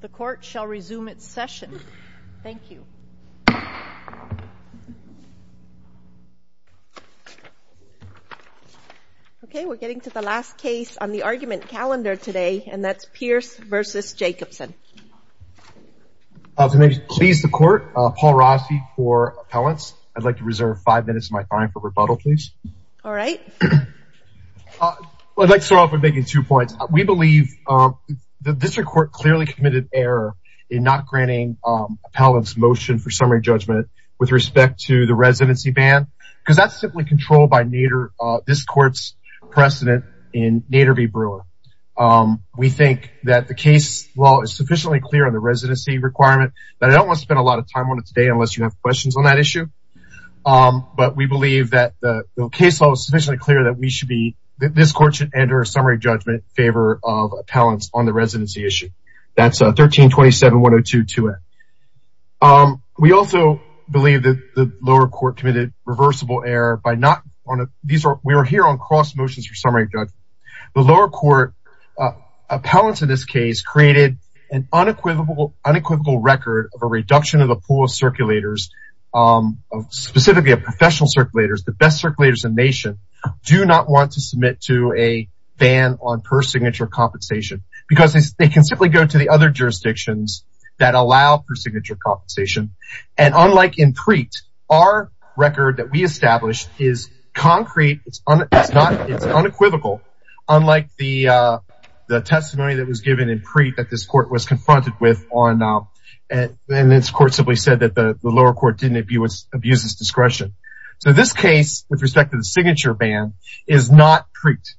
The court shall resume its session. Thank you. Okay, we're getting to the last case on the argument calendar today, and that's Pierce v. Jacobsen. To please the court, Paul Rossi for appellants. I'd like to reserve five minutes of my time for rebuttal, please. All right. I'd like to start off by making two points. We believe that this court clearly committed error in not granting appellants motion for summary judgment with respect to the residency ban, because that's simply controlled by this court's precedent in Nader v. Brewer. We think that the case law is sufficiently clear on the residency requirement. I don't want to spend a lot of time on it today unless you have questions on that issue. But we believe that the case law is sufficiently clear that this court should enter a summary judgment in favor of appellants on the residency issue. That's 1327.102.2a. We also believe that the lower court committed reversible error. We are here on cross motions for summary judgment. The lower court appellants in this case created an unequivocal record of a reduction of the pool of circulators, specifically of professional circulators, the best circulators in the nation, do not want to submit to a ban on per-signature compensation because they can simply go to the other jurisdictions that allow per-signature compensation. Unlike in Preet, our record that we established is concrete. It's unequivocal, unlike the testimony that was given in Preet that this court was confronted with. And this court simply said that the lower court didn't abuse its discretion. So this case, with respect to the signature ban, is not Preet.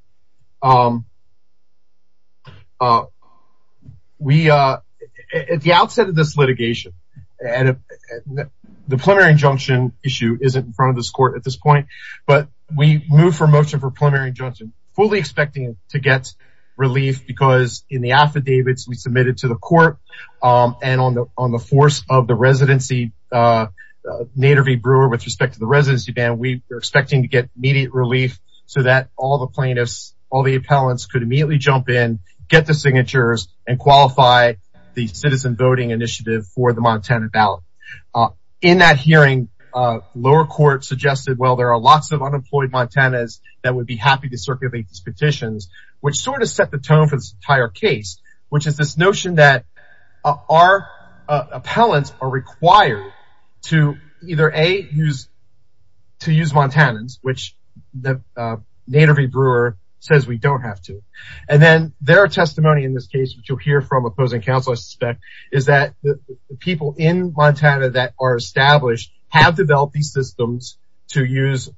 At the outset of this litigation, the preliminary injunction issue isn't in front of this court at this point, but we move for motion for preliminary injunction, fully expecting to get relief because in the affidavits we submitted to the court and on the force of the residency, Nader V. Brewer, with respect to the residency ban, we are expecting to get immediate relief so that all the plaintiffs, all the appellants could immediately jump in, get the signatures, and qualify the citizen voting initiative for the Montana ballot. In that hearing, lower court suggested, well, there are lots of unemployed Montanans that would be happy to circulate these petitions, which sort of set the tone for this entire case, which is this notion that our appellants are required to either A, to use Montanans, which Nader V. Brewer says we don't have to. And then there are testimony in this case, which you'll hear from opposing counsel, I suspect, is that the people in Montana that are established have developed these systems to use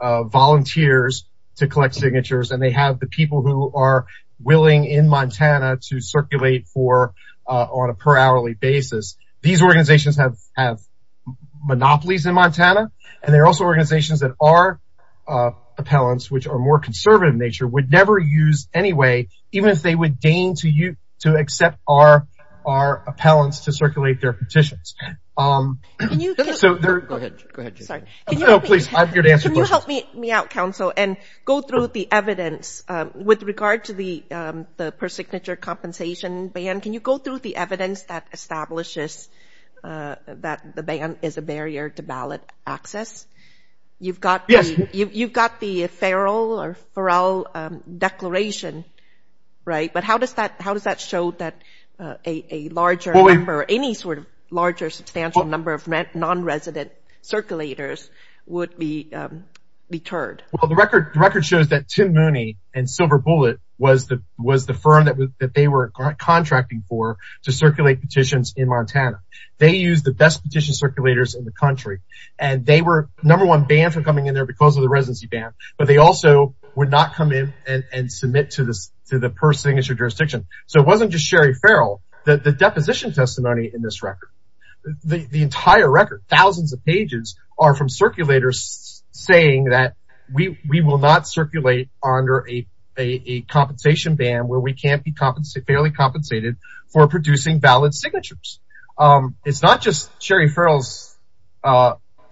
volunteers to collect signatures, and they have the people who are willing in Montana to circulate on a per-hourly basis. These organizations have monopolies in Montana, and they're also organizations that our appellants, which are more conservative in nature, would never use anyway, even if they would deign to accept our appellants to circulate their petitions. Can you help me out, counsel, and go through the evidence with regard to the per-signature compensation ban? Can you go through the evidence that establishes that the ban is a barrier to ballot access? You've got the Farrell Declaration, right? But how does that show that a larger number, any sort of larger substantial number of non-resident circulators would be deterred? Well, the record shows that Tim Mooney and Silver Bullet was the firm that they were contracting for to circulate petitions in Montana. They used the best petition circulators in the country, and they were number one banned from coming in there because of the residency ban. But they also would not come in and submit to the per-signature jurisdiction. So it wasn't just Sherry Farrell. The deposition testimony in this record, the entire record, thousands of pages, are from circulators saying that we will not circulate under a compensation ban where we can't be fairly compensated for producing valid signatures. It's not just Sherry Farrell's.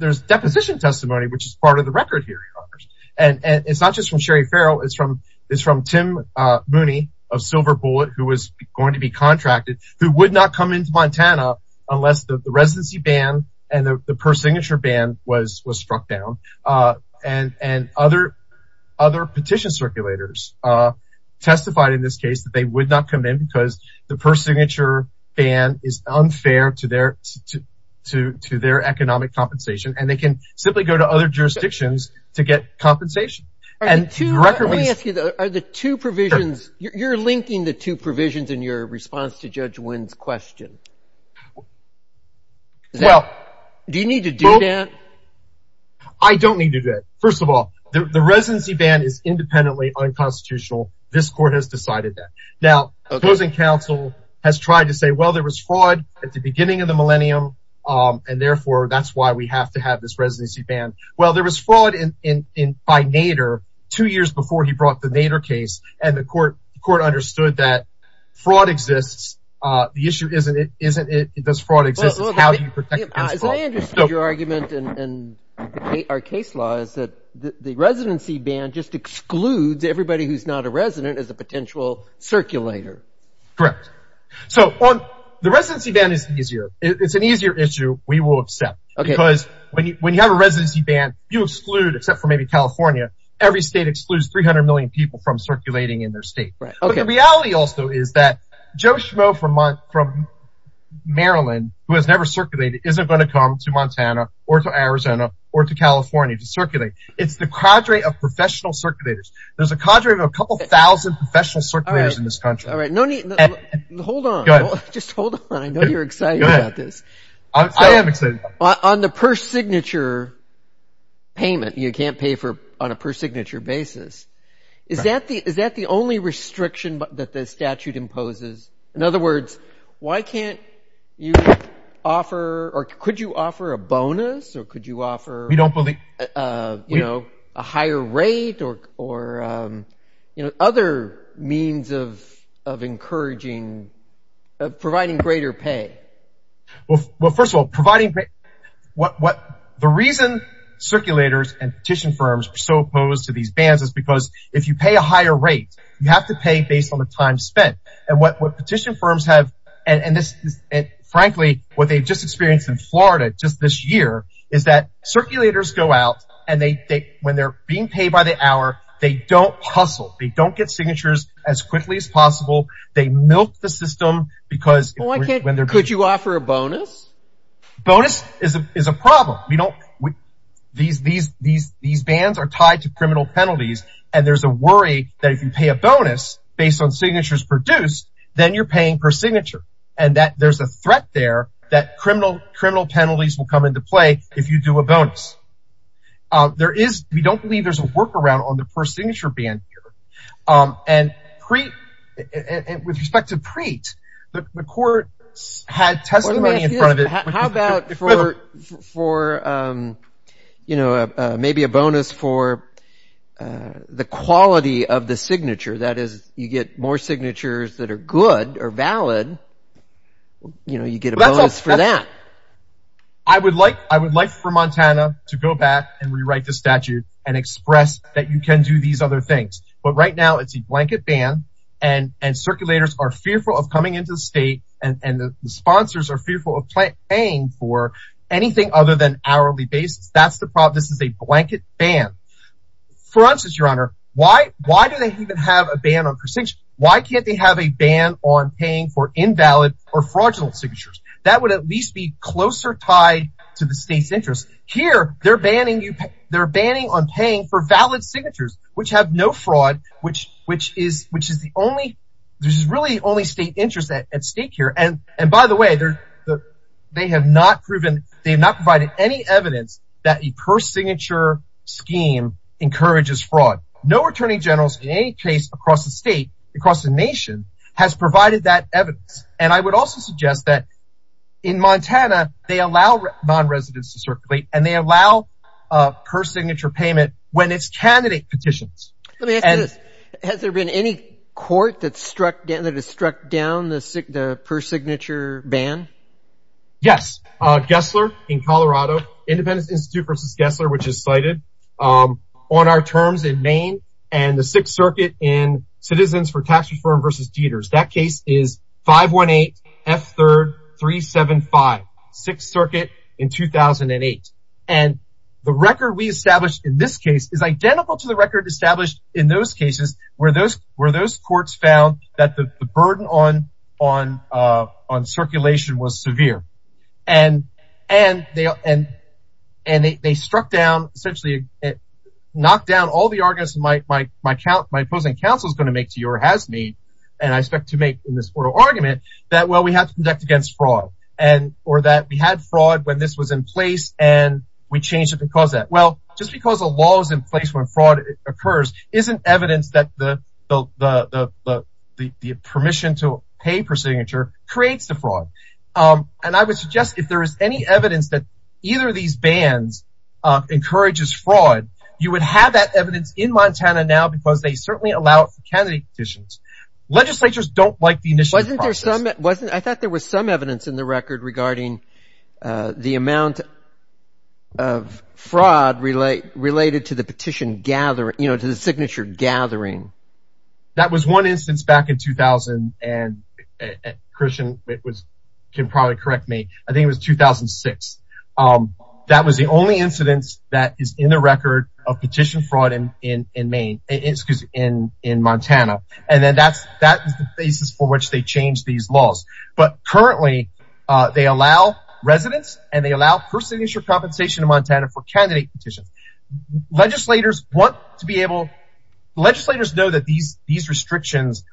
There's deposition testimony, which is part of the record here in Congress. And it's not just from Sherry Farrell. It's from Tim Mooney of Silver Bullet, who was going to be contracted, who would not come into Montana unless the residency ban and the per-signature ban was struck down. And other petition circulators testified in this case that they would not come in because the per-signature ban is unfair to their economic compensation, and they can simply go to other jurisdictions to get compensation. Let me ask you, are the two provisions – you're linking the two provisions in your response to Judge Wynn's question. Do you need to do that? I don't need to do that. First of all, the residency ban is independently unconstitutional. This court has decided that. Now, closing counsel has tried to say, well, there was fraud at the beginning of the millennium, and therefore that's why we have to have this residency ban. Well, there was fraud by Nader two years before he brought the Nader case, and the court understood that fraud exists. The issue isn't does fraud exist. It's how do you protect – As I understood your argument and our case law is that the residency ban just excludes everybody who's not a resident as a potential circulator. Correct. So the residency ban is easier. It's an easier issue we will accept because when you have a residency ban, you exclude except for maybe California. Every state excludes 300 million people from circulating in their state. But the reality also is that Joe Schmoe from Maryland who has never circulated isn't going to come to Montana or to Arizona or to California to circulate. It's the cadre of professional circulators. There's a cadre of a couple thousand professional circulators in this country. All right. Hold on. Just hold on. I know you're excited about this. I am excited. On the per-signature payment, you can't pay on a per-signature basis, is that the only restriction that the statute imposes? In other words, why can't you offer – or could you offer a bonus or could you offer – We don't believe –– a higher rate or other means of encouraging providing greater pay? Well, first of all, providing – the reason circulators and petition firms are so opposed to these bans is because if you pay a higher rate, you have to pay based on the time spent. And what petition firms have – and frankly, what they've just experienced in Florida just this year is that circulators go out and they – when they're being paid by the hour, they don't hustle. They don't get signatures as quickly as possible. They milk the system because – Well, why can't – could you offer a bonus? Bonus is a problem. We don't – these bans are tied to criminal penalties, and there's a worry that if you pay a bonus based on signatures produced, then you're paying per-signature and that there's a threat there that criminal penalties will come into play if you do a bonus. There is – we don't believe there's a workaround on the per-signature ban here. And with respect to PREET, the courts had testimony in front of it – How about for – maybe a bonus for the quality of the signature, that is, you get more signatures that are good or valid, you get a bonus for that. I would like for Montana to go back and rewrite the statute and express that you can do these other things. But right now, it's a blanket ban, and circulators are fearful of coming into the state, and the sponsors are fearful of paying for anything other than hourly basis. That's the problem. This is a blanket ban. For instance, Your Honor, why do they even have a ban on per-signature? Why can't they have a ban on paying for invalid or fraudulent signatures? That would at least be closer tied to the state's interest. Here, they're banning you – they're banning on paying for valid signatures, which have no fraud, which is the only – there's really only state interest at stake here. And by the way, they have not provided any evidence that a per-signature scheme encourages fraud. No attorney general in any case across the state, across the nation, has provided that evidence. And I would also suggest that in Montana, they allow non-residents to circulate, and they allow per-signature payment when it's candidate petitions. Let me ask you this. Has there been any court that has struck down the per-signature ban? Yes. Gessler in Colorado, Independence Institute v. Gessler, which is cited, on our terms in Maine, and the Sixth Circuit in Citizens for Tax-Referred v. Dieters. That case is 518 F. 3rd 375, Sixth Circuit in 2008. And the record we established in this case is identical to the record established in those cases where those courts found that the burden on circulation was severe. And they struck down – essentially knocked down all the arguments my opposing counsel is going to make to you, or has made, and I expect to make in this court of argument, that, well, we have to conduct against fraud. Or that we had fraud when this was in place, and we changed it because of that. Well, just because a law is in place when fraud occurs isn't evidence that the permission to pay per-signature creates the fraud. And I would suggest if there is any evidence that either of these bans encourages fraud, you would have that evidence in Montana now because they certainly allow it for candidate petitions. Legislatures don't like the initial process. I thought there was some evidence in the record regarding the amount of fraud related to the petition gathering, you know, to the signature gathering. That was one instance back in 2000, and Christian can probably correct me. I think it was 2006. That was the only incidence that is in the record of petition fraud in Montana. And then that is the basis for which they changed these laws. But currently, they allow residents and they allow per-signature compensation in Montana for candidate petitions. Legislators want to be able – legislators know that these restrictions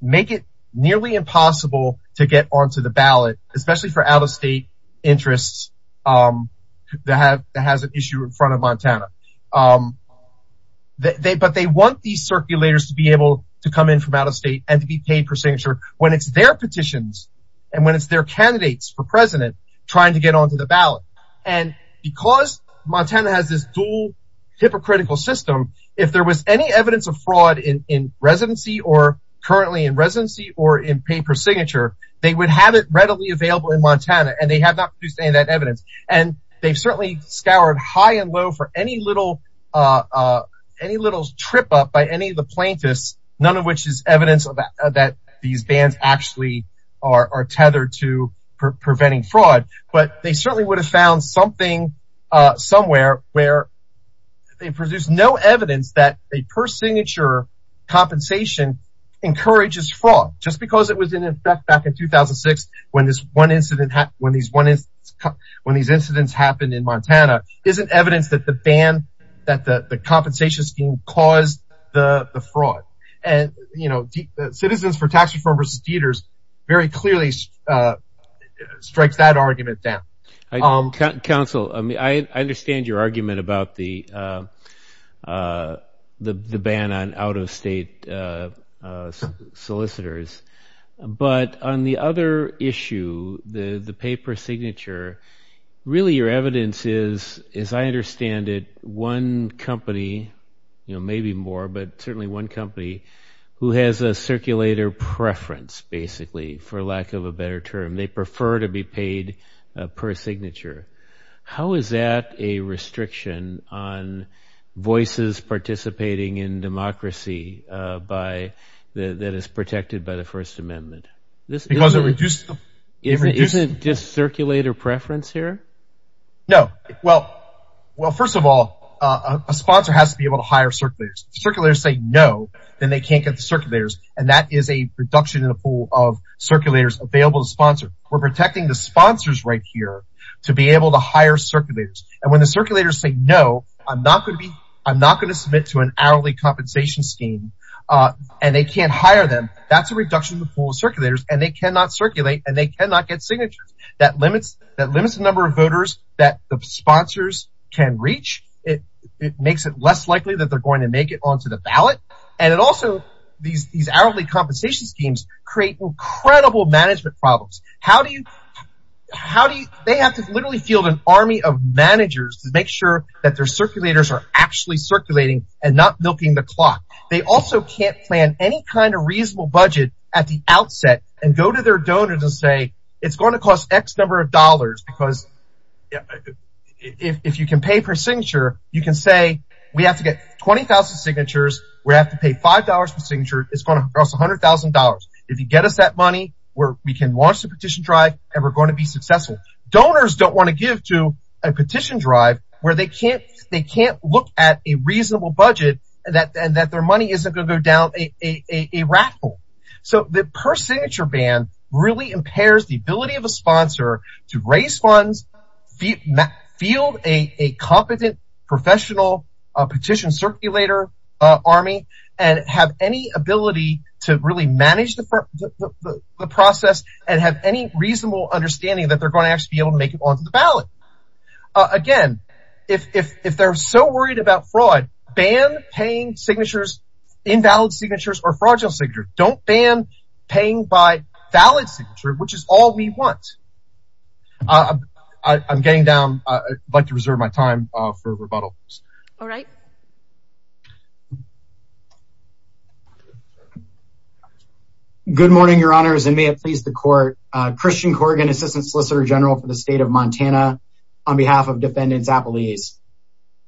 make it nearly impossible to get onto the ballot, especially for out-of-state interests that has an issue in front of Montana. But they want these circulators to be able to come in from out-of-state and to be paid per-signature when it's their petitions and when it's their candidates for president trying to get onto the ballot. And because Montana has this dual hypocritical system, if there was any evidence of fraud in residency or currently in residency or in pay per-signature, they would have it readily available in Montana, and they have not produced any of that evidence. And they certainly scoured high and low for any little trip-up by any of the plaintiffs, none of which is evidence that these bans actually are tethered to preventing fraud. But they certainly would have found something somewhere where they produced no evidence that a per-signature compensation encourages fraud just because it was in effect back in 2006 when these incidents happened in Montana isn't evidence that the compensation scheme caused the fraud. And Citizens for Tax Reform v. Dieters very clearly strikes that argument down. Council, I understand your argument about the ban on out-of-state solicitors. But on the other issue, the pay per-signature, really your evidence is, as I understand it, one company, maybe more, but certainly one company who has a circulator preference, basically, for lack of a better term. They prefer to be paid per-signature. How is that a restriction on voices participating in democracy that is protected by the First Amendment? Because it reduces the… Isn't it just circulator preference here? No. Well, first of all, a sponsor has to be able to hire circulators. If circulators say no, then they can't get the circulators, and that is a reduction in the pool of circulators available to sponsor. We're protecting the sponsors right here to be able to hire circulators. And when the circulators say no, I'm not going to submit to an hourly compensation scheme, and they can't hire them, that's a reduction in the pool of circulators, and they cannot circulate, and they cannot get signatures. That limits the number of voters that the sponsors can reach. It makes it less likely that they're going to make it onto the ballot, and it also – these hourly compensation schemes create incredible management problems. How do you – they have to literally field an army of managers to make sure that their circulators are actually circulating and not milking the clock. They also can't plan any kind of reasonable budget at the outset and go to their donors and say, it's going to cost X number of dollars because if you can pay per signature, you can say we have to get 20,000 signatures. We have to pay $5 per signature. It's going to cost $100,000. If you get us that money, we can launch the petition drive, and we're going to be successful. Donors don't want to give to a petition drive where they can't look at a reasonable budget and that their money isn't going to go down a raffle. So the per signature ban really impairs the ability of a sponsor to raise funds, field a competent professional petition circulator army, and have any ability to really manage the process and have any reasonable understanding that they're going to actually be able to make it onto the ballot. Again, if they're so worried about fraud, ban paying signatures, invalid signatures, or fraudulent signatures. Don't ban paying by valid signature, which is all we want. I'm getting down. I'd like to reserve my time for rebuttals. All right. Good morning, Your Honors, and may it please the court. Christian Corrigan, Assistant Solicitor General for the State of Montana, on behalf of Defendants Appellees.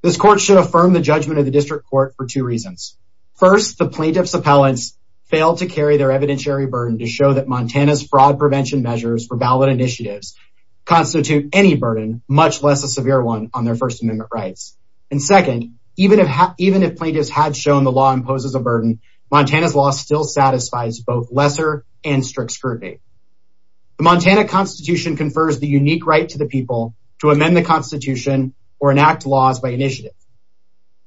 This court should affirm the judgment of the district court for two reasons. First, the plaintiff's appellants failed to carry their evidentiary burden to show that Montana's fraud prevention measures for ballot initiatives constitute any burden, much less a severe one on their First Amendment rights. And second, even if plaintiffs had shown the law imposes a burden, Montana's law still satisfies both lesser and strict scrutiny. The Montana Constitution confers the unique right to the people to amend the Constitution or enact laws by initiative.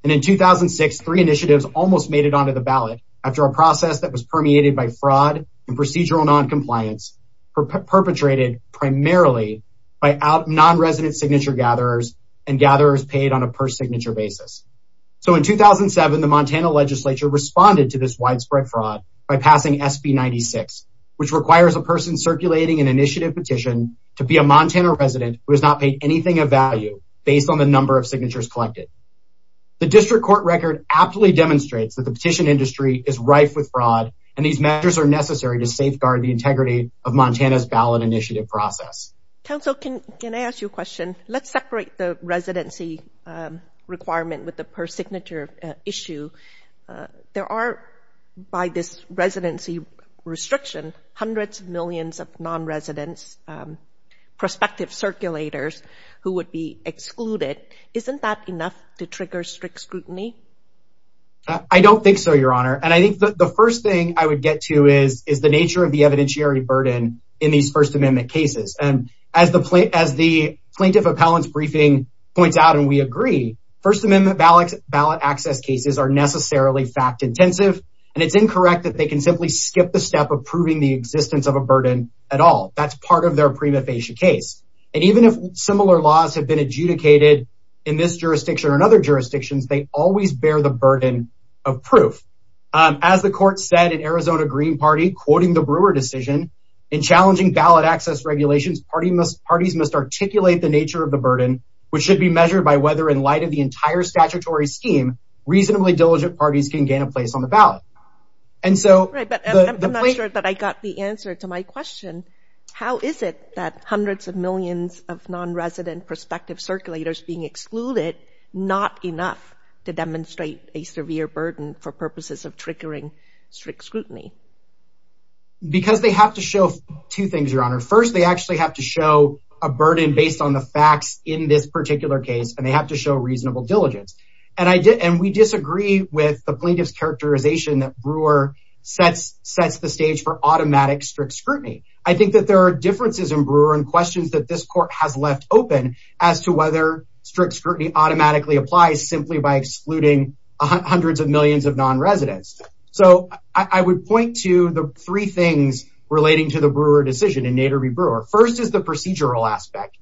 And in 2006, three initiatives almost made it onto the ballot after a process that was permeated by fraud and procedural noncompliance perpetrated primarily by nonresident signature gatherers and gatherers paid on a per signature basis. So in 2007, the Montana legislature responded to this widespread fraud by passing SB 96, which requires a person circulating an initiative petition to be a Montana resident who has not paid anything of value based on the number of signatures collected. The district court record aptly demonstrates that the petition industry is rife with fraud, and these measures are necessary to safeguard the integrity of Montana's ballot initiative process. Council, can I ask you a question? Let's separate the residency requirement with the per signature issue. There are, by this residency restriction, hundreds of millions of nonresidents, prospective circulators who would be excluded. Isn't that enough to trigger strict scrutiny? I don't think so, Your Honor. And I think the first thing I would get to is the nature of the evidentiary burden in these First Amendment cases. And as the plaintiff appellant's briefing points out, and we agree, First Amendment ballot access cases are necessarily fact intensive, and it's incorrect that they can simply skip the step of proving the existence of a burden at all. That's part of their prima facie case. And even if similar laws have been adjudicated in this jurisdiction or in other jurisdictions, they always bear the burden of proof. As the court said in Arizona Green Party, quoting the Brewer decision, in challenging ballot access regulations, parties must articulate the nature of the burden, which should be measured by whether, in light of the entire statutory scheme, reasonably diligent parties can gain a place on the ballot. I'm not sure that I got the answer to my question. How is it that hundreds of millions of nonresident prospective circulators being excluded not enough to demonstrate a severe burden for purposes of triggering strict scrutiny? Because they have to show two things, Your Honor. First, they actually have to show a burden based on the facts in this particular case, and they have to show reasonable diligence. And we disagree with the plaintiff's characterization that Brewer sets the stage for automatic strict scrutiny. I think that there are differences in Brewer and questions that this court has left open as to whether strict scrutiny automatically applies simply by excluding hundreds of millions of nonresidents. So I would point to the three things relating to the Brewer decision in Nader v. Brewer. First is the procedural aspect.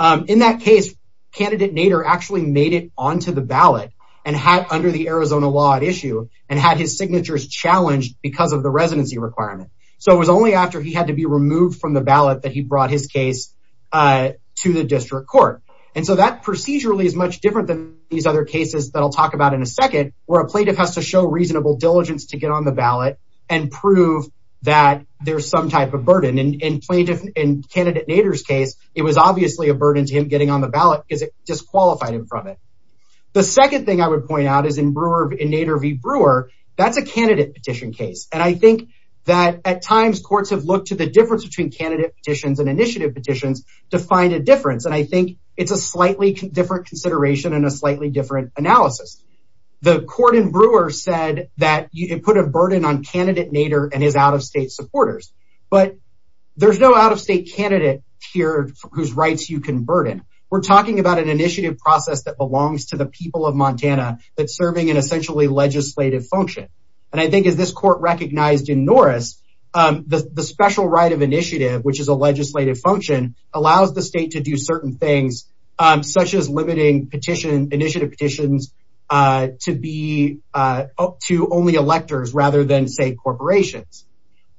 In that case, candidate Nader actually made it onto the ballot under the Arizona law at issue and had his signatures challenged because of the residency requirement. So it was only after he had to be removed from the ballot that he brought his case to the district court. And so that procedurally is much different than these other cases that I'll talk about in a second where a plaintiff has to show reasonable diligence to get on the ballot and prove that there's some type of burden. In candidate Nader's case, it was obviously a burden to him getting on the ballot because it disqualified him from it. The second thing I would point out is in Nader v. Brewer, that's a candidate petition case. And I think that at times courts have looked to the difference between candidate petitions and initiative petitions to find a difference. And I think it's a slightly different consideration and a slightly different analysis. The court in Brewer said that it put a burden on candidate Nader and his out-of-state supporters. But there's no out-of-state candidate here whose rights you can burden. We're talking about an initiative process that belongs to the people of Montana that's serving an essentially legislative function. And I think as this court recognized in Norris, the special right of initiative, which is a legislative function, allows the state to do certain things, such as limiting initiative petitions to only electors rather than, say, corporations.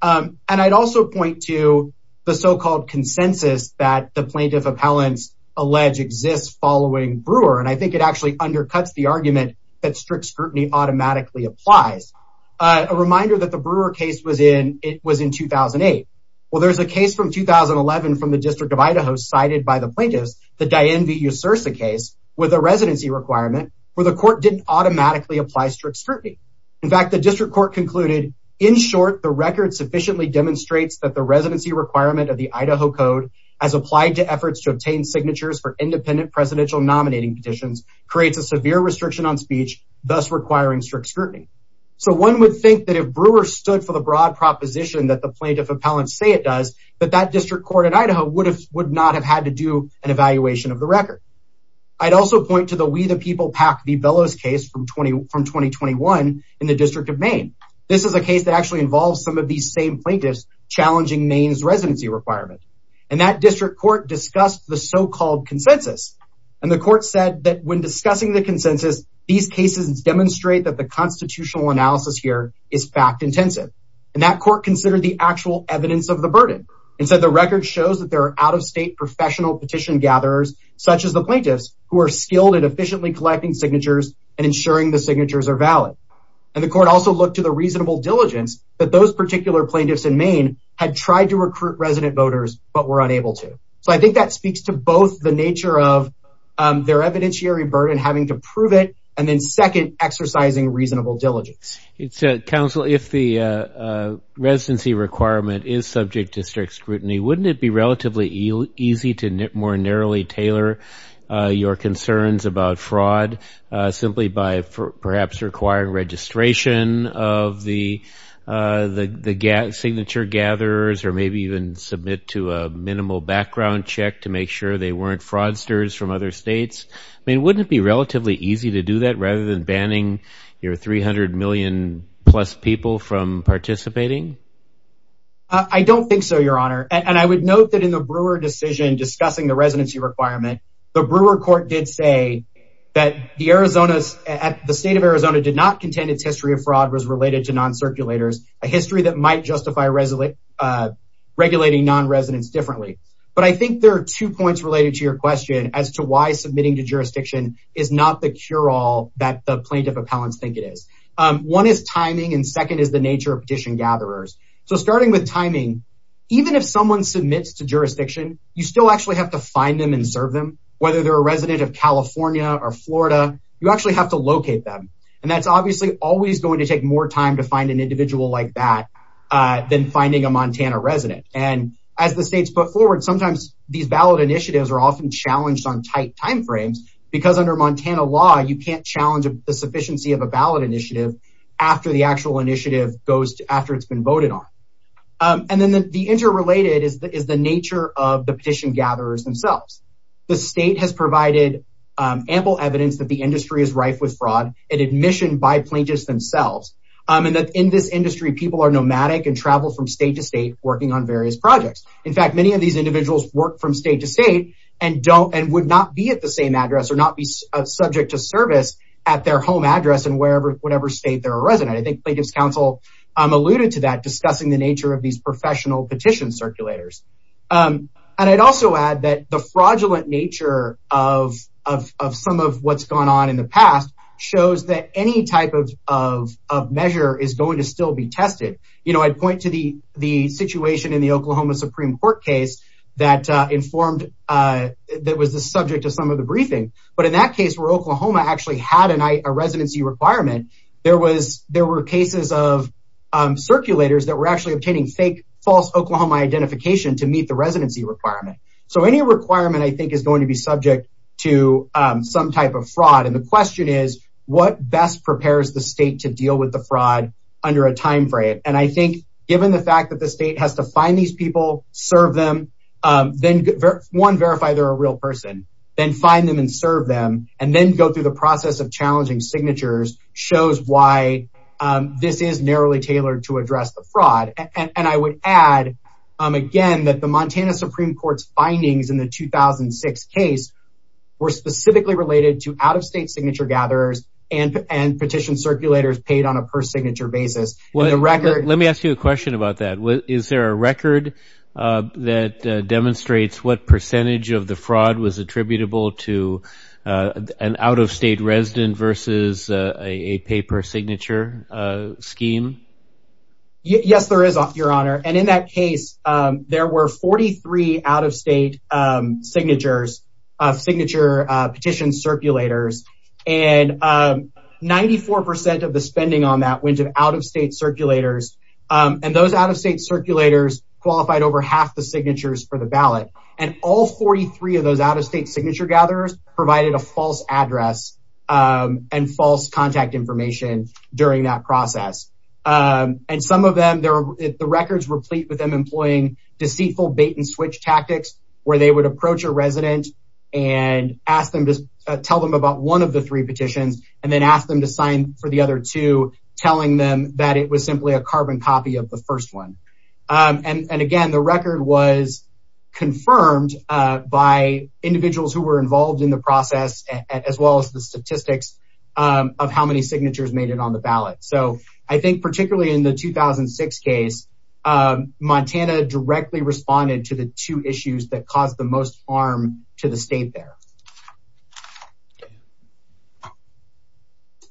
And I'd also point to the so-called consensus that the plaintiff appellants allege exists following Brewer. And I think it actually undercuts the argument that strict scrutiny automatically applies. A reminder that the Brewer case was in 2008. Well, there's a case from 2011 from the District of Idaho cited by the plaintiffs, the Diane v. Usursa case, with a residency requirement where the court didn't automatically apply strict scrutiny. In fact, the district court concluded, in short, the record sufficiently demonstrates that the residency requirement of the Idaho Code as applied to efforts to obtain signatures for independent presidential nominating petitions creates a severe restriction on speech, thus requiring strict scrutiny. So one would think that if Brewer stood for the broad proposition that the plaintiff appellants say it does, that that district court in Idaho would not have had to do an evaluation of the record. I'd also point to the We the People PAC v. Bellows case from 2021 in the District of Maine. This is a case that actually involves some of these same plaintiffs challenging Maine's residency requirement. And that district court discussed the so-called consensus. And the court said that when discussing the consensus, these cases demonstrate that the constitutional analysis here is fact-intensive. And that court considered the actual evidence of the burden. And said the record shows that there are out-of-state professional petition gatherers, such as the plaintiffs, who are skilled at efficiently collecting signatures and ensuring the signatures are valid. And the court also looked to the reasonable diligence that those particular plaintiffs in Maine had tried to recruit resident voters but were unable to. So I think that speaks to both the nature of their evidentiary burden having to prove it, and then second, exercising reasonable diligence. Counsel, if the residency requirement is subject to strict scrutiny, wouldn't it be relatively easy to more narrowly tailor your concerns about fraud simply by perhaps requiring registration of the signature gatherers or maybe even submit to a minimal background check to make sure they weren't fraudsters from other states? I mean, wouldn't it be relatively easy to do that rather than banning your 300 million-plus people from participating? I don't think so, Your Honor. And I would note that in the Brewer decision discussing the residency requirement, the Brewer court did say that the state of Arizona did not contend its history of fraud was related to non-circulators, a history that might justify regulating non-residents differently. But I think there are two points related to your question as to why submitting to jurisdiction is not the cure-all that the plaintiff appellants think it is. One is timing, and second is the nature of petition gatherers. So starting with timing, even if someone submits to jurisdiction, you still actually have to find them and serve them. Whether they're a resident of California or Florida, you actually have to locate them. And that's obviously always going to take more time to find an individual like that than finding a Montana resident. And as the state's put forward, sometimes these ballot initiatives are often challenged on tight timeframes because under Montana law, you can't challenge the sufficiency of a ballot initiative after the actual initiative goes after it's been voted on. And then the interrelated is the nature of the petition gatherers themselves. The state has provided ample evidence that the industry is rife with fraud, and admission by plaintiffs themselves, and that in this industry, people are nomadic and travel from state to state working on various projects. In fact, many of these individuals work from state to state and would not be at the same address or not be subject to service at their home address in whatever state they're a resident. I think Plaintiff's Counsel alluded to that, discussing the nature of these professional petition circulators. And I'd also add that the fraudulent nature of some of what's gone on in the past shows that any type of measure is going to still be tested. I'd point to the situation in the Oklahoma Supreme Court case that was the subject of some of the briefing. But in that case, where Oklahoma actually had a residency requirement, there were cases of circulators that were actually obtaining fake false Oklahoma identification to meet the residency requirement. So any requirement, I think, is going to be subject to some type of fraud. And the question is, what best prepares the state to deal with the fraud under a time frame? And I think given the fact that the state has to find these people, serve them, then one, verify they're a real person, then find them and serve them, and then go through the process of challenging signatures, shows why this is narrowly tailored to address the fraud. And I would add, again, that the Montana Supreme Court's findings in the 2006 case were specifically related to out-of-state signature gatherers and petition circulators paid on a per-signature basis. Let me ask you a question about that. Is there a record that demonstrates what percentage of the fraud was attributable to an out-of-state resident versus a pay-per-signature scheme? Yes, there is, Your Honor. And in that case, there were 43 out-of-state signatures, signature petition circulators, and 94% of the spending on that went to out-of-state circulators. And those out-of-state circulators qualified over half the signatures for the ballot. And all 43 of those out-of-state signature gatherers provided a false address and false contact information during that process. And some of them, the records were complete with them employing deceitful bait-and-switch tactics where they would approach a resident and tell them about one of the three petitions and then ask them to sign for the other two, telling them that it was simply a carbon copy of the first one. And, again, the record was confirmed by individuals who were involved in the process as well as the statistics of how many signatures made it on the ballot. So I think particularly in the 2006 case, Montana directly responded to the two issues that caused the most harm to the state there.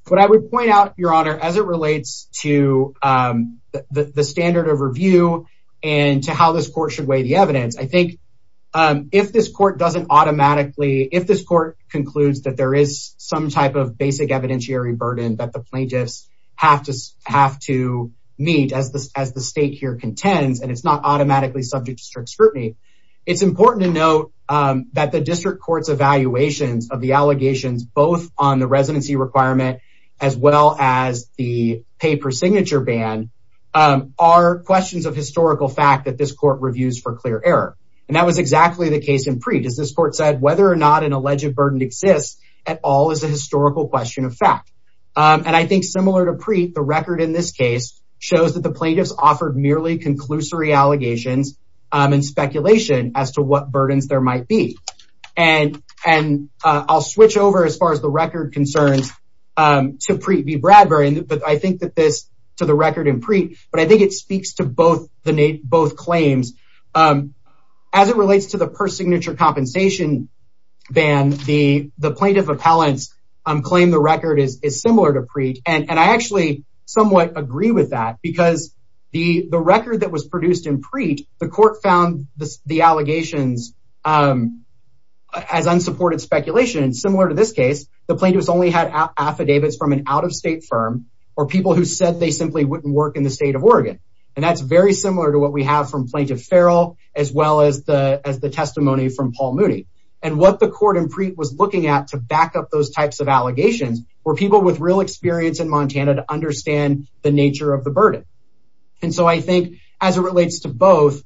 What I would point out, Your Honor, as it relates to the standard of review and to how this court should weigh the evidence, I think if this court concludes that there is some type of basic evidentiary burden that the plaintiffs have to meet as the state here contends and it's not automatically subject to strict scrutiny, it's important to note that the district court's evaluations of the allegations both on the residency requirement as well as the paper signature ban are questions of historical fact that this court reviews for clear error. And that was exactly the case in Preet. As this court said, whether or not an alleged burden exists at all is a historical question of fact. And I think, similar to Preet, the record in this case shows that the plaintiffs offered merely conclusory allegations and speculation as to what burdens there might be. And I'll switch over, as far as the record concerns, to Preet v. Bradbury. But I think that this, to the record in Preet, but I think it speaks to both claims. As it relates to the per-signature compensation ban, the plaintiff appellants claim the record is similar to Preet. And I actually somewhat agree with that because the record that was produced in Preet, the court found the allegations as unsupported speculation. Similar to this case, the plaintiffs only had affidavits from an out-of-state firm or people who said they simply wouldn't work in the state of Oregon. And that's very similar to what we have from Plaintiff Farrell as well as the testimony from Paul Moody. And what the court in Preet was looking at to back up those types of allegations were people with real experience in Montana to understand the nature of the burden. And so I think, as it relates to both,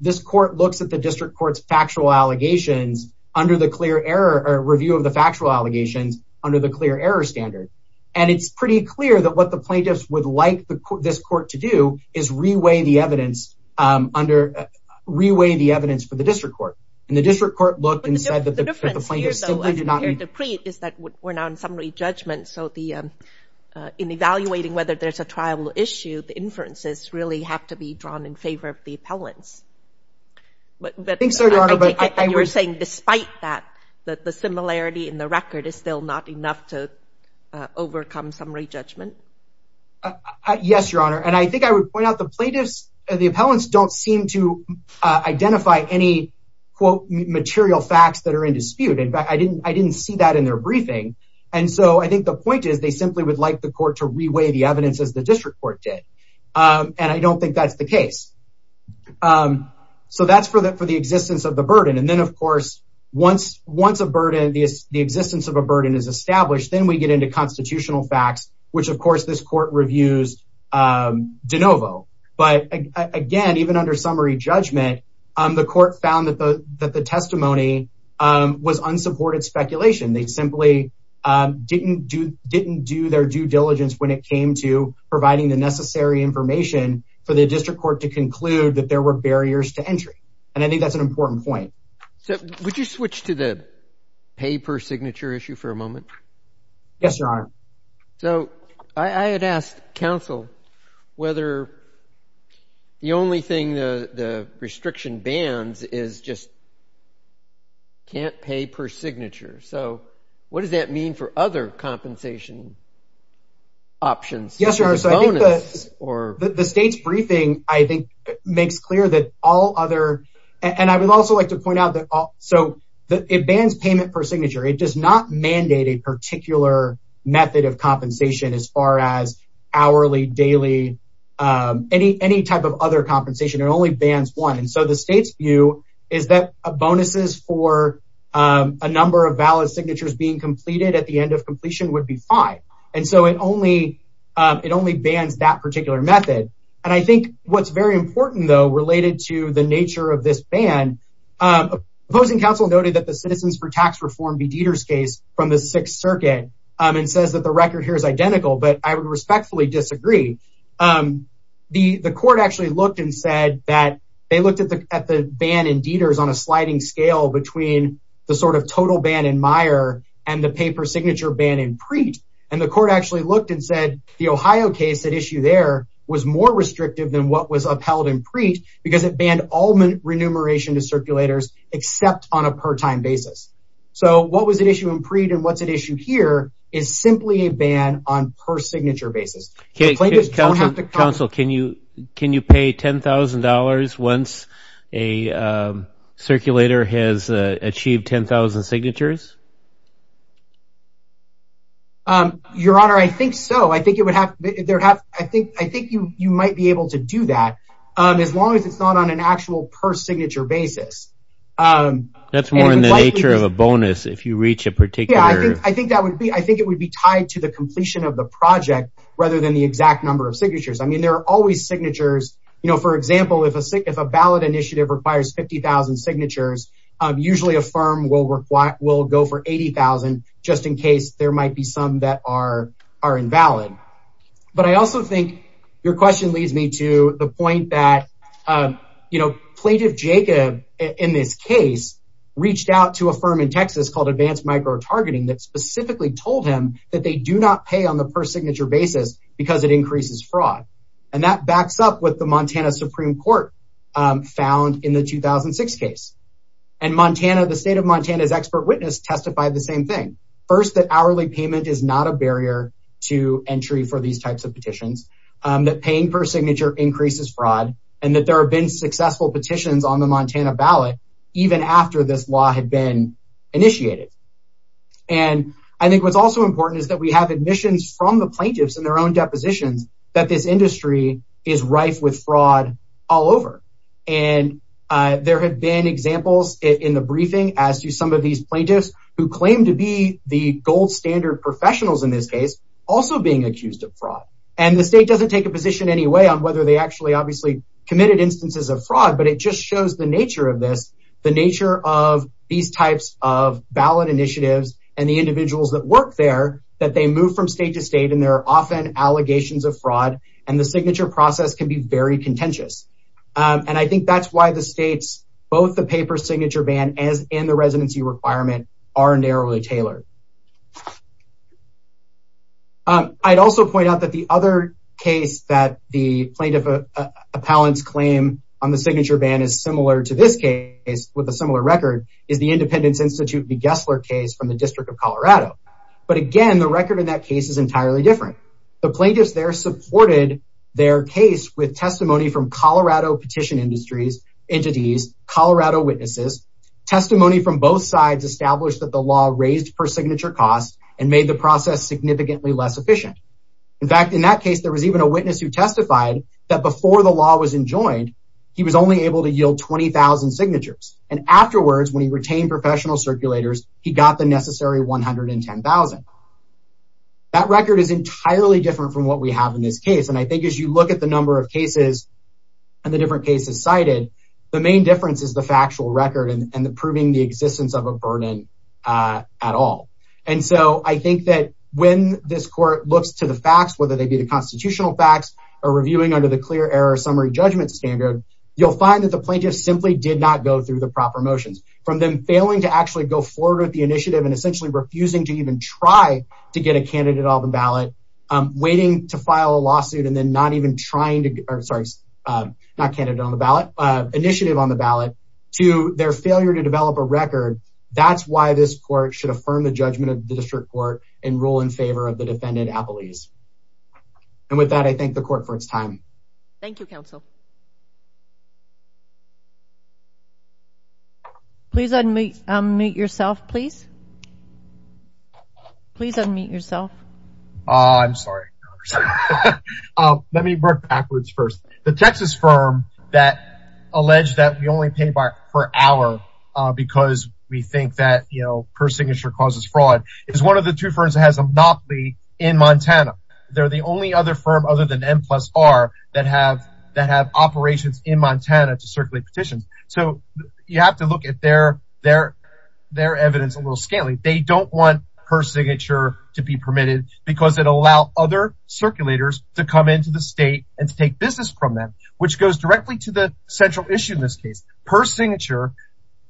this court looks at the district court's factual allegations under the clear error, or review of the factual allegations under the clear error standard. And it's pretty clear that what the plaintiffs would like this court to do is re-weigh the evidence for the district court. And the district court looked and said that the plaintiffs simply did not— But the difference here, though, as compared to Preet, is that we're now in summary judgment. So in evaluating whether there's a trial issue, the inferences really have to be drawn in favor of the appellants. I think so, Your Honor. And you're saying despite that, that the similarity in the record is still not enough to overcome summary judgment? Yes, Your Honor. And I think I would point out the plaintiffs, the appellants don't seem to identify any, quote, material facts that are in dispute. In fact, I didn't see that in their briefing. And so I think the point is they simply would like the court to re-weigh the evidence as the district court did. And I don't think that's the case. So that's for the existence of the burden. And then, of course, once a burden, the existence of a burden is established, which, of course, this court reviews de novo. But, again, even under summary judgment, the court found that the testimony was unsupported speculation. They simply didn't do their due diligence when it came to providing the necessary information for the district court to conclude that there were barriers to entry. And I think that's an important point. So would you switch to the paper signature issue for a moment? Yes, Your Honor. So I had asked counsel whether the only thing the restriction bans is just can't pay per signature. So what does that mean for other compensation options? Yes, Your Honor. The state's briefing, I think, makes clear that all other – and I would also like to point out that – so it bans payment per signature. It does not mandate a particular method of compensation as far as hourly, daily, any type of other compensation. It only bans one. And so the state's view is that bonuses for a number of valid signatures being completed at the end of completion would be five. And so it only bans that particular method. And I think what's very important, though, related to the nature of this ban, opposing counsel noted that the Citizens for Tax Reform v. Dieter's case from the Sixth Circuit and says that the record here is identical. But I would respectfully disagree. The court actually looked and said that they looked at the ban in Dieter's on a sliding scale between the sort of total ban in Meyer and the pay per signature ban in Preet. And the court actually looked and said the Ohio case at issue there was more restrictive than what was upheld in Preet because it banned all remuneration to circulators except on a per-time basis. So what was at issue in Preet and what's at issue here is simply a ban on per-signature basis. Counsel, can you pay $10,000 once a circulator has achieved 10,000 signatures? Your Honor, I think so. I think you might be able to do that as long as it's not on an actual per-signature basis. That's more in the nature of a bonus if you reach a particular. Yeah, I think it would be tied to the completion of the project rather than the exact number of signatures. I mean, there are always signatures. For example, if a ballot initiative requires 50,000 signatures, usually a firm will go for 80,000 just in case there might be some that are invalid. But I also think your question leads me to the point that Plaintiff Jacob in this case reached out to a firm in Texas called Advanced Micro-Targeting that specifically told him that they do not pay on the per-signature basis because it increases fraud. And that backs up with the Montana Supreme Court found in the 2006 case. And the state of Montana's expert witness testified the same thing. First, that hourly payment is not a barrier to entry for these types of petitions. That paying per-signature increases fraud. And that there have been successful petitions on the Montana ballot even after this law had been initiated. And I think what's also important is that we have admissions from the plaintiffs in their own depositions that this industry is rife with fraud all over. And there have been examples in the briefing as to some of these plaintiffs who claim to be the gold-standard professionals in this case also being accused of fraud. And the state doesn't take a position anyway on whether they actually obviously committed instances of fraud. But it just shows the nature of this, the nature of these types of ballot initiatives and the individuals that work there that they move from state to state and there are often allegations of fraud. And the signature process can be very contentious. And I think that's why the state's both the paper signature ban and the residency requirement are narrowly tailored. I'd also point out that the other case that the plaintiff appellant's claim on the signature ban is similar to this case with a similar record is the Independence Institute v. Gessler case from the District of Colorado. But again, the record in that case is entirely different. The plaintiffs there supported their case with testimony from Colorado petition industries, entities, Colorado witnesses, testimony from both sides established that the law raised per signature cost and made the process significantly less efficient. In fact, in that case, there was even a witness who testified that before the law was enjoined, he was only able to yield 20,000 signatures. And afterwards, when he retained professional circulators, he got the necessary 110,000. That record is entirely different from what we have in this case. And I think as you look at the number of cases and the different cases cited, the main difference is the factual record and the proving the existence of a burden at all. And so I think that when this court looks to the facts, whether they be the constitutional facts or reviewing under the clear error summary judgment standard, you'll find that the plaintiff simply did not go through the proper motions. From them failing to actually go forward with the initiative and essentially refusing to even try to get a candidate on the ballot, waiting to file a lawsuit and then not even trying to, or sorry, not candidate on the ballot, initiative on the ballot, to their failure to develop a record. That's why this court should affirm the judgment of the district court and rule in favor of the defendant, Apolise. And with that, I thank the court for its time. Thank you, counsel. Please unmute yourself, please. Please unmute yourself. I'm sorry. Let me work backwards first. The Texas firm that alleged that we only pay by per hour because we think that, you know, per signature causes fraud is one of the two firms that has a monopoly in Montana. They're the only other firm other than M plus R that have operations in Montana to circulate petitions. So you have to look at their evidence a little scantily. They don't want per signature to be permitted because it'll allow other circulators to come into the state and to take business from them, which goes directly to the central issue in this case. Per signature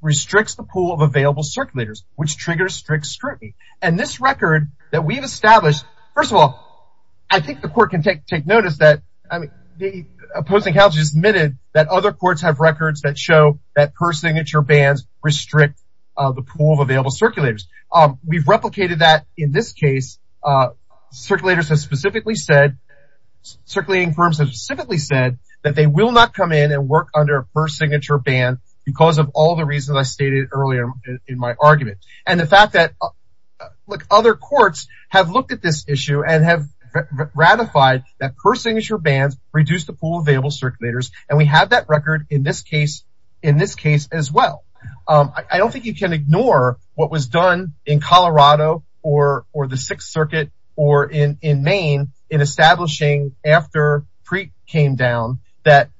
restricts the pool of available circulators, which triggers strict scrutiny. And this record that we've established, first of all, I think the court can take notice that, I mean, that other courts have records that show that per signature bans restrict the pool of available circulators. We've replicated that in this case. Circulators have specifically said, circulating firms have specifically said that they will not come in and work under a per signature ban because of all the reasons I stated earlier in my argument. And the fact that, look, other courts have looked at this issue and have ratified that per signature bans reduce the pool of available circulators. And we have that record in this case as well. I don't think you can ignore what was done in Colorado or the Sixth Circuit or in Maine in establishing after Preet came down that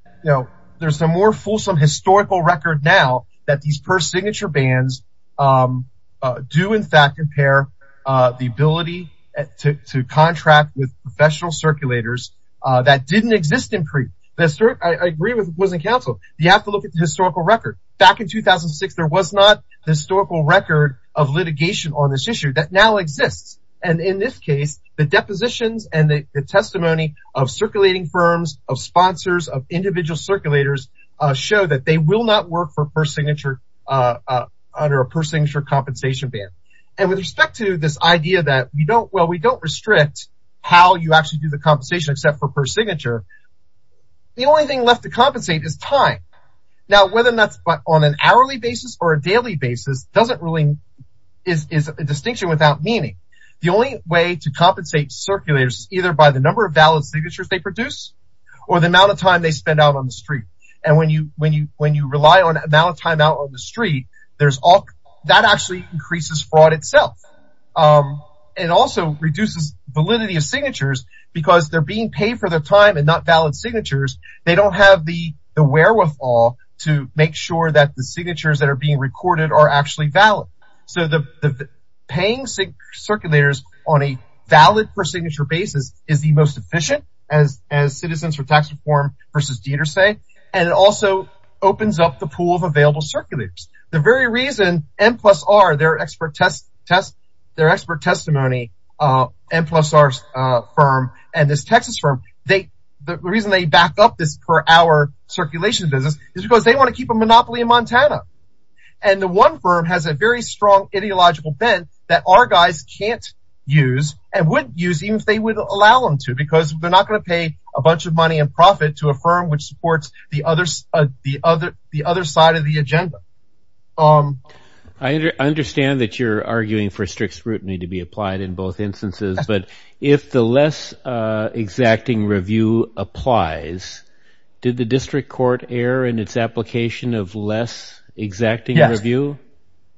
there's a more fulsome historical record now that these per signature bans do in fact impair the ability to contract with professional circulators that didn't exist in Preet. I agree with what was in counsel. You have to look at the historical record. Back in 2006, there was not a historical record of litigation on this issue that now exists. And in this case, the depositions and the testimony of circulating firms, of sponsors, of individual circulators show that they will not work for per signature under a per signature compensation ban. And with respect to this idea that we don't, well, we don't restrict how you actually do the compensation except for per signature, the only thing left to compensate is time. Now, whether that's on an hourly basis or a daily basis doesn't really, is a distinction without meaning. The only way to compensate circulators is either by the number of valid signatures they produce or the amount of time they spend out on the street. And when you rely on the amount of time out on the street, that actually increases fraud itself. It also reduces validity of signatures because they're being paid for their time and not valid signatures. They don't have the wherewithal to make sure that the signatures that are being recorded are actually valid. So the paying circulators on a valid per signature basis is the most efficient, as citizens for tax reform versus Dieter say, and it also opens up the pool of available circulators. The very reason M plus R, their expert testimony, M plus R's firm and this Texas firm, the reason they back up this per hour circulation business is because they want to keep a monopoly in Montana. And the one firm has a very strong ideological bent that our guys can't use and wouldn't use even if they would allow them to because they're not going to pay a bunch of money in profit to a firm which supports the other side of the agenda. I understand that you're arguing for strict scrutiny to be applied in both instances, but if the less exacting review applies, did the district court err in its application of less exacting review?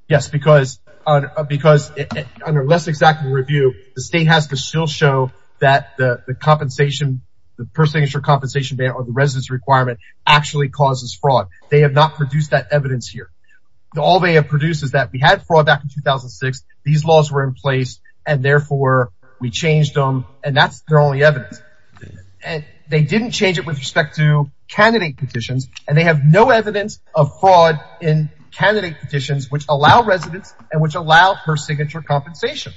Yes, because under less exacting review, the state has to still show that the compensation, the per signature compensation ban or the residence requirement actually causes fraud. They have not produced that evidence here. All they have produced is that we had fraud back in 2006. These laws were in place and therefore we changed them and that's their only evidence. They didn't change it with respect to candidate petitions and they have no evidence of fraud in candidate petitions which allow residents and which allow per signature compensation.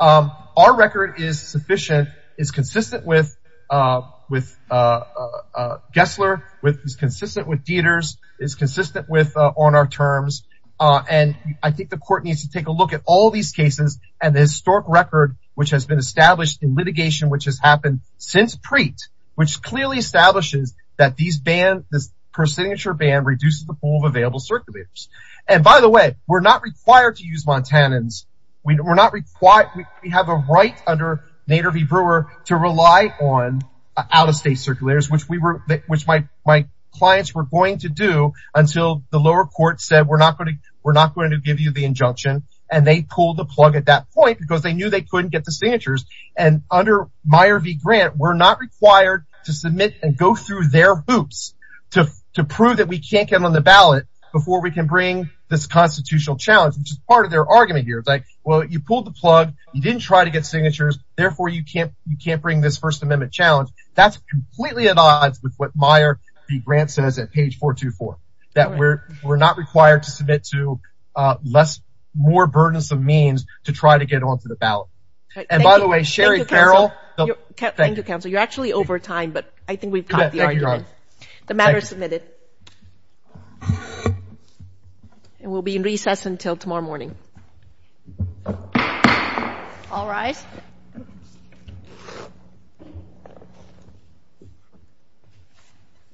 Our record is sufficient, is consistent with Gessler, is consistent with Dieter's, is consistent with on our terms and I think the court needs to take a look at all these cases and the historic record which has been established in litigation which has happened since Preet which clearly establishes that these bans, this per signature ban reduces the pool of available circulators. And by the way, we're not required to use Montanans. We have a right under Nader v. Brewer to rely on out-of-state circulators which my clients were going to do until the lower court said we're not going to give you the injunction and they pulled the plug at that point because they knew they couldn't get the signatures and under Meyer v. Grant, we're not required to submit and go through their hoops to prove that we can't get on the ballot before we can bring this constitutional challenge which is part of their argument here. It's like, well, you pulled the plug. You didn't try to get signatures. Therefore, you can't bring this First Amendment challenge. That's completely at odds with what Meyer v. Grant says at page 424 that we're not required to submit to less, more burdensome means to try to get onto the ballot. And by the way, Sherry Farrell. Thank you, counsel. You're actually over time but I think we've caught the argument. The matter is submitted. And we'll be in recess until tomorrow morning. All rise.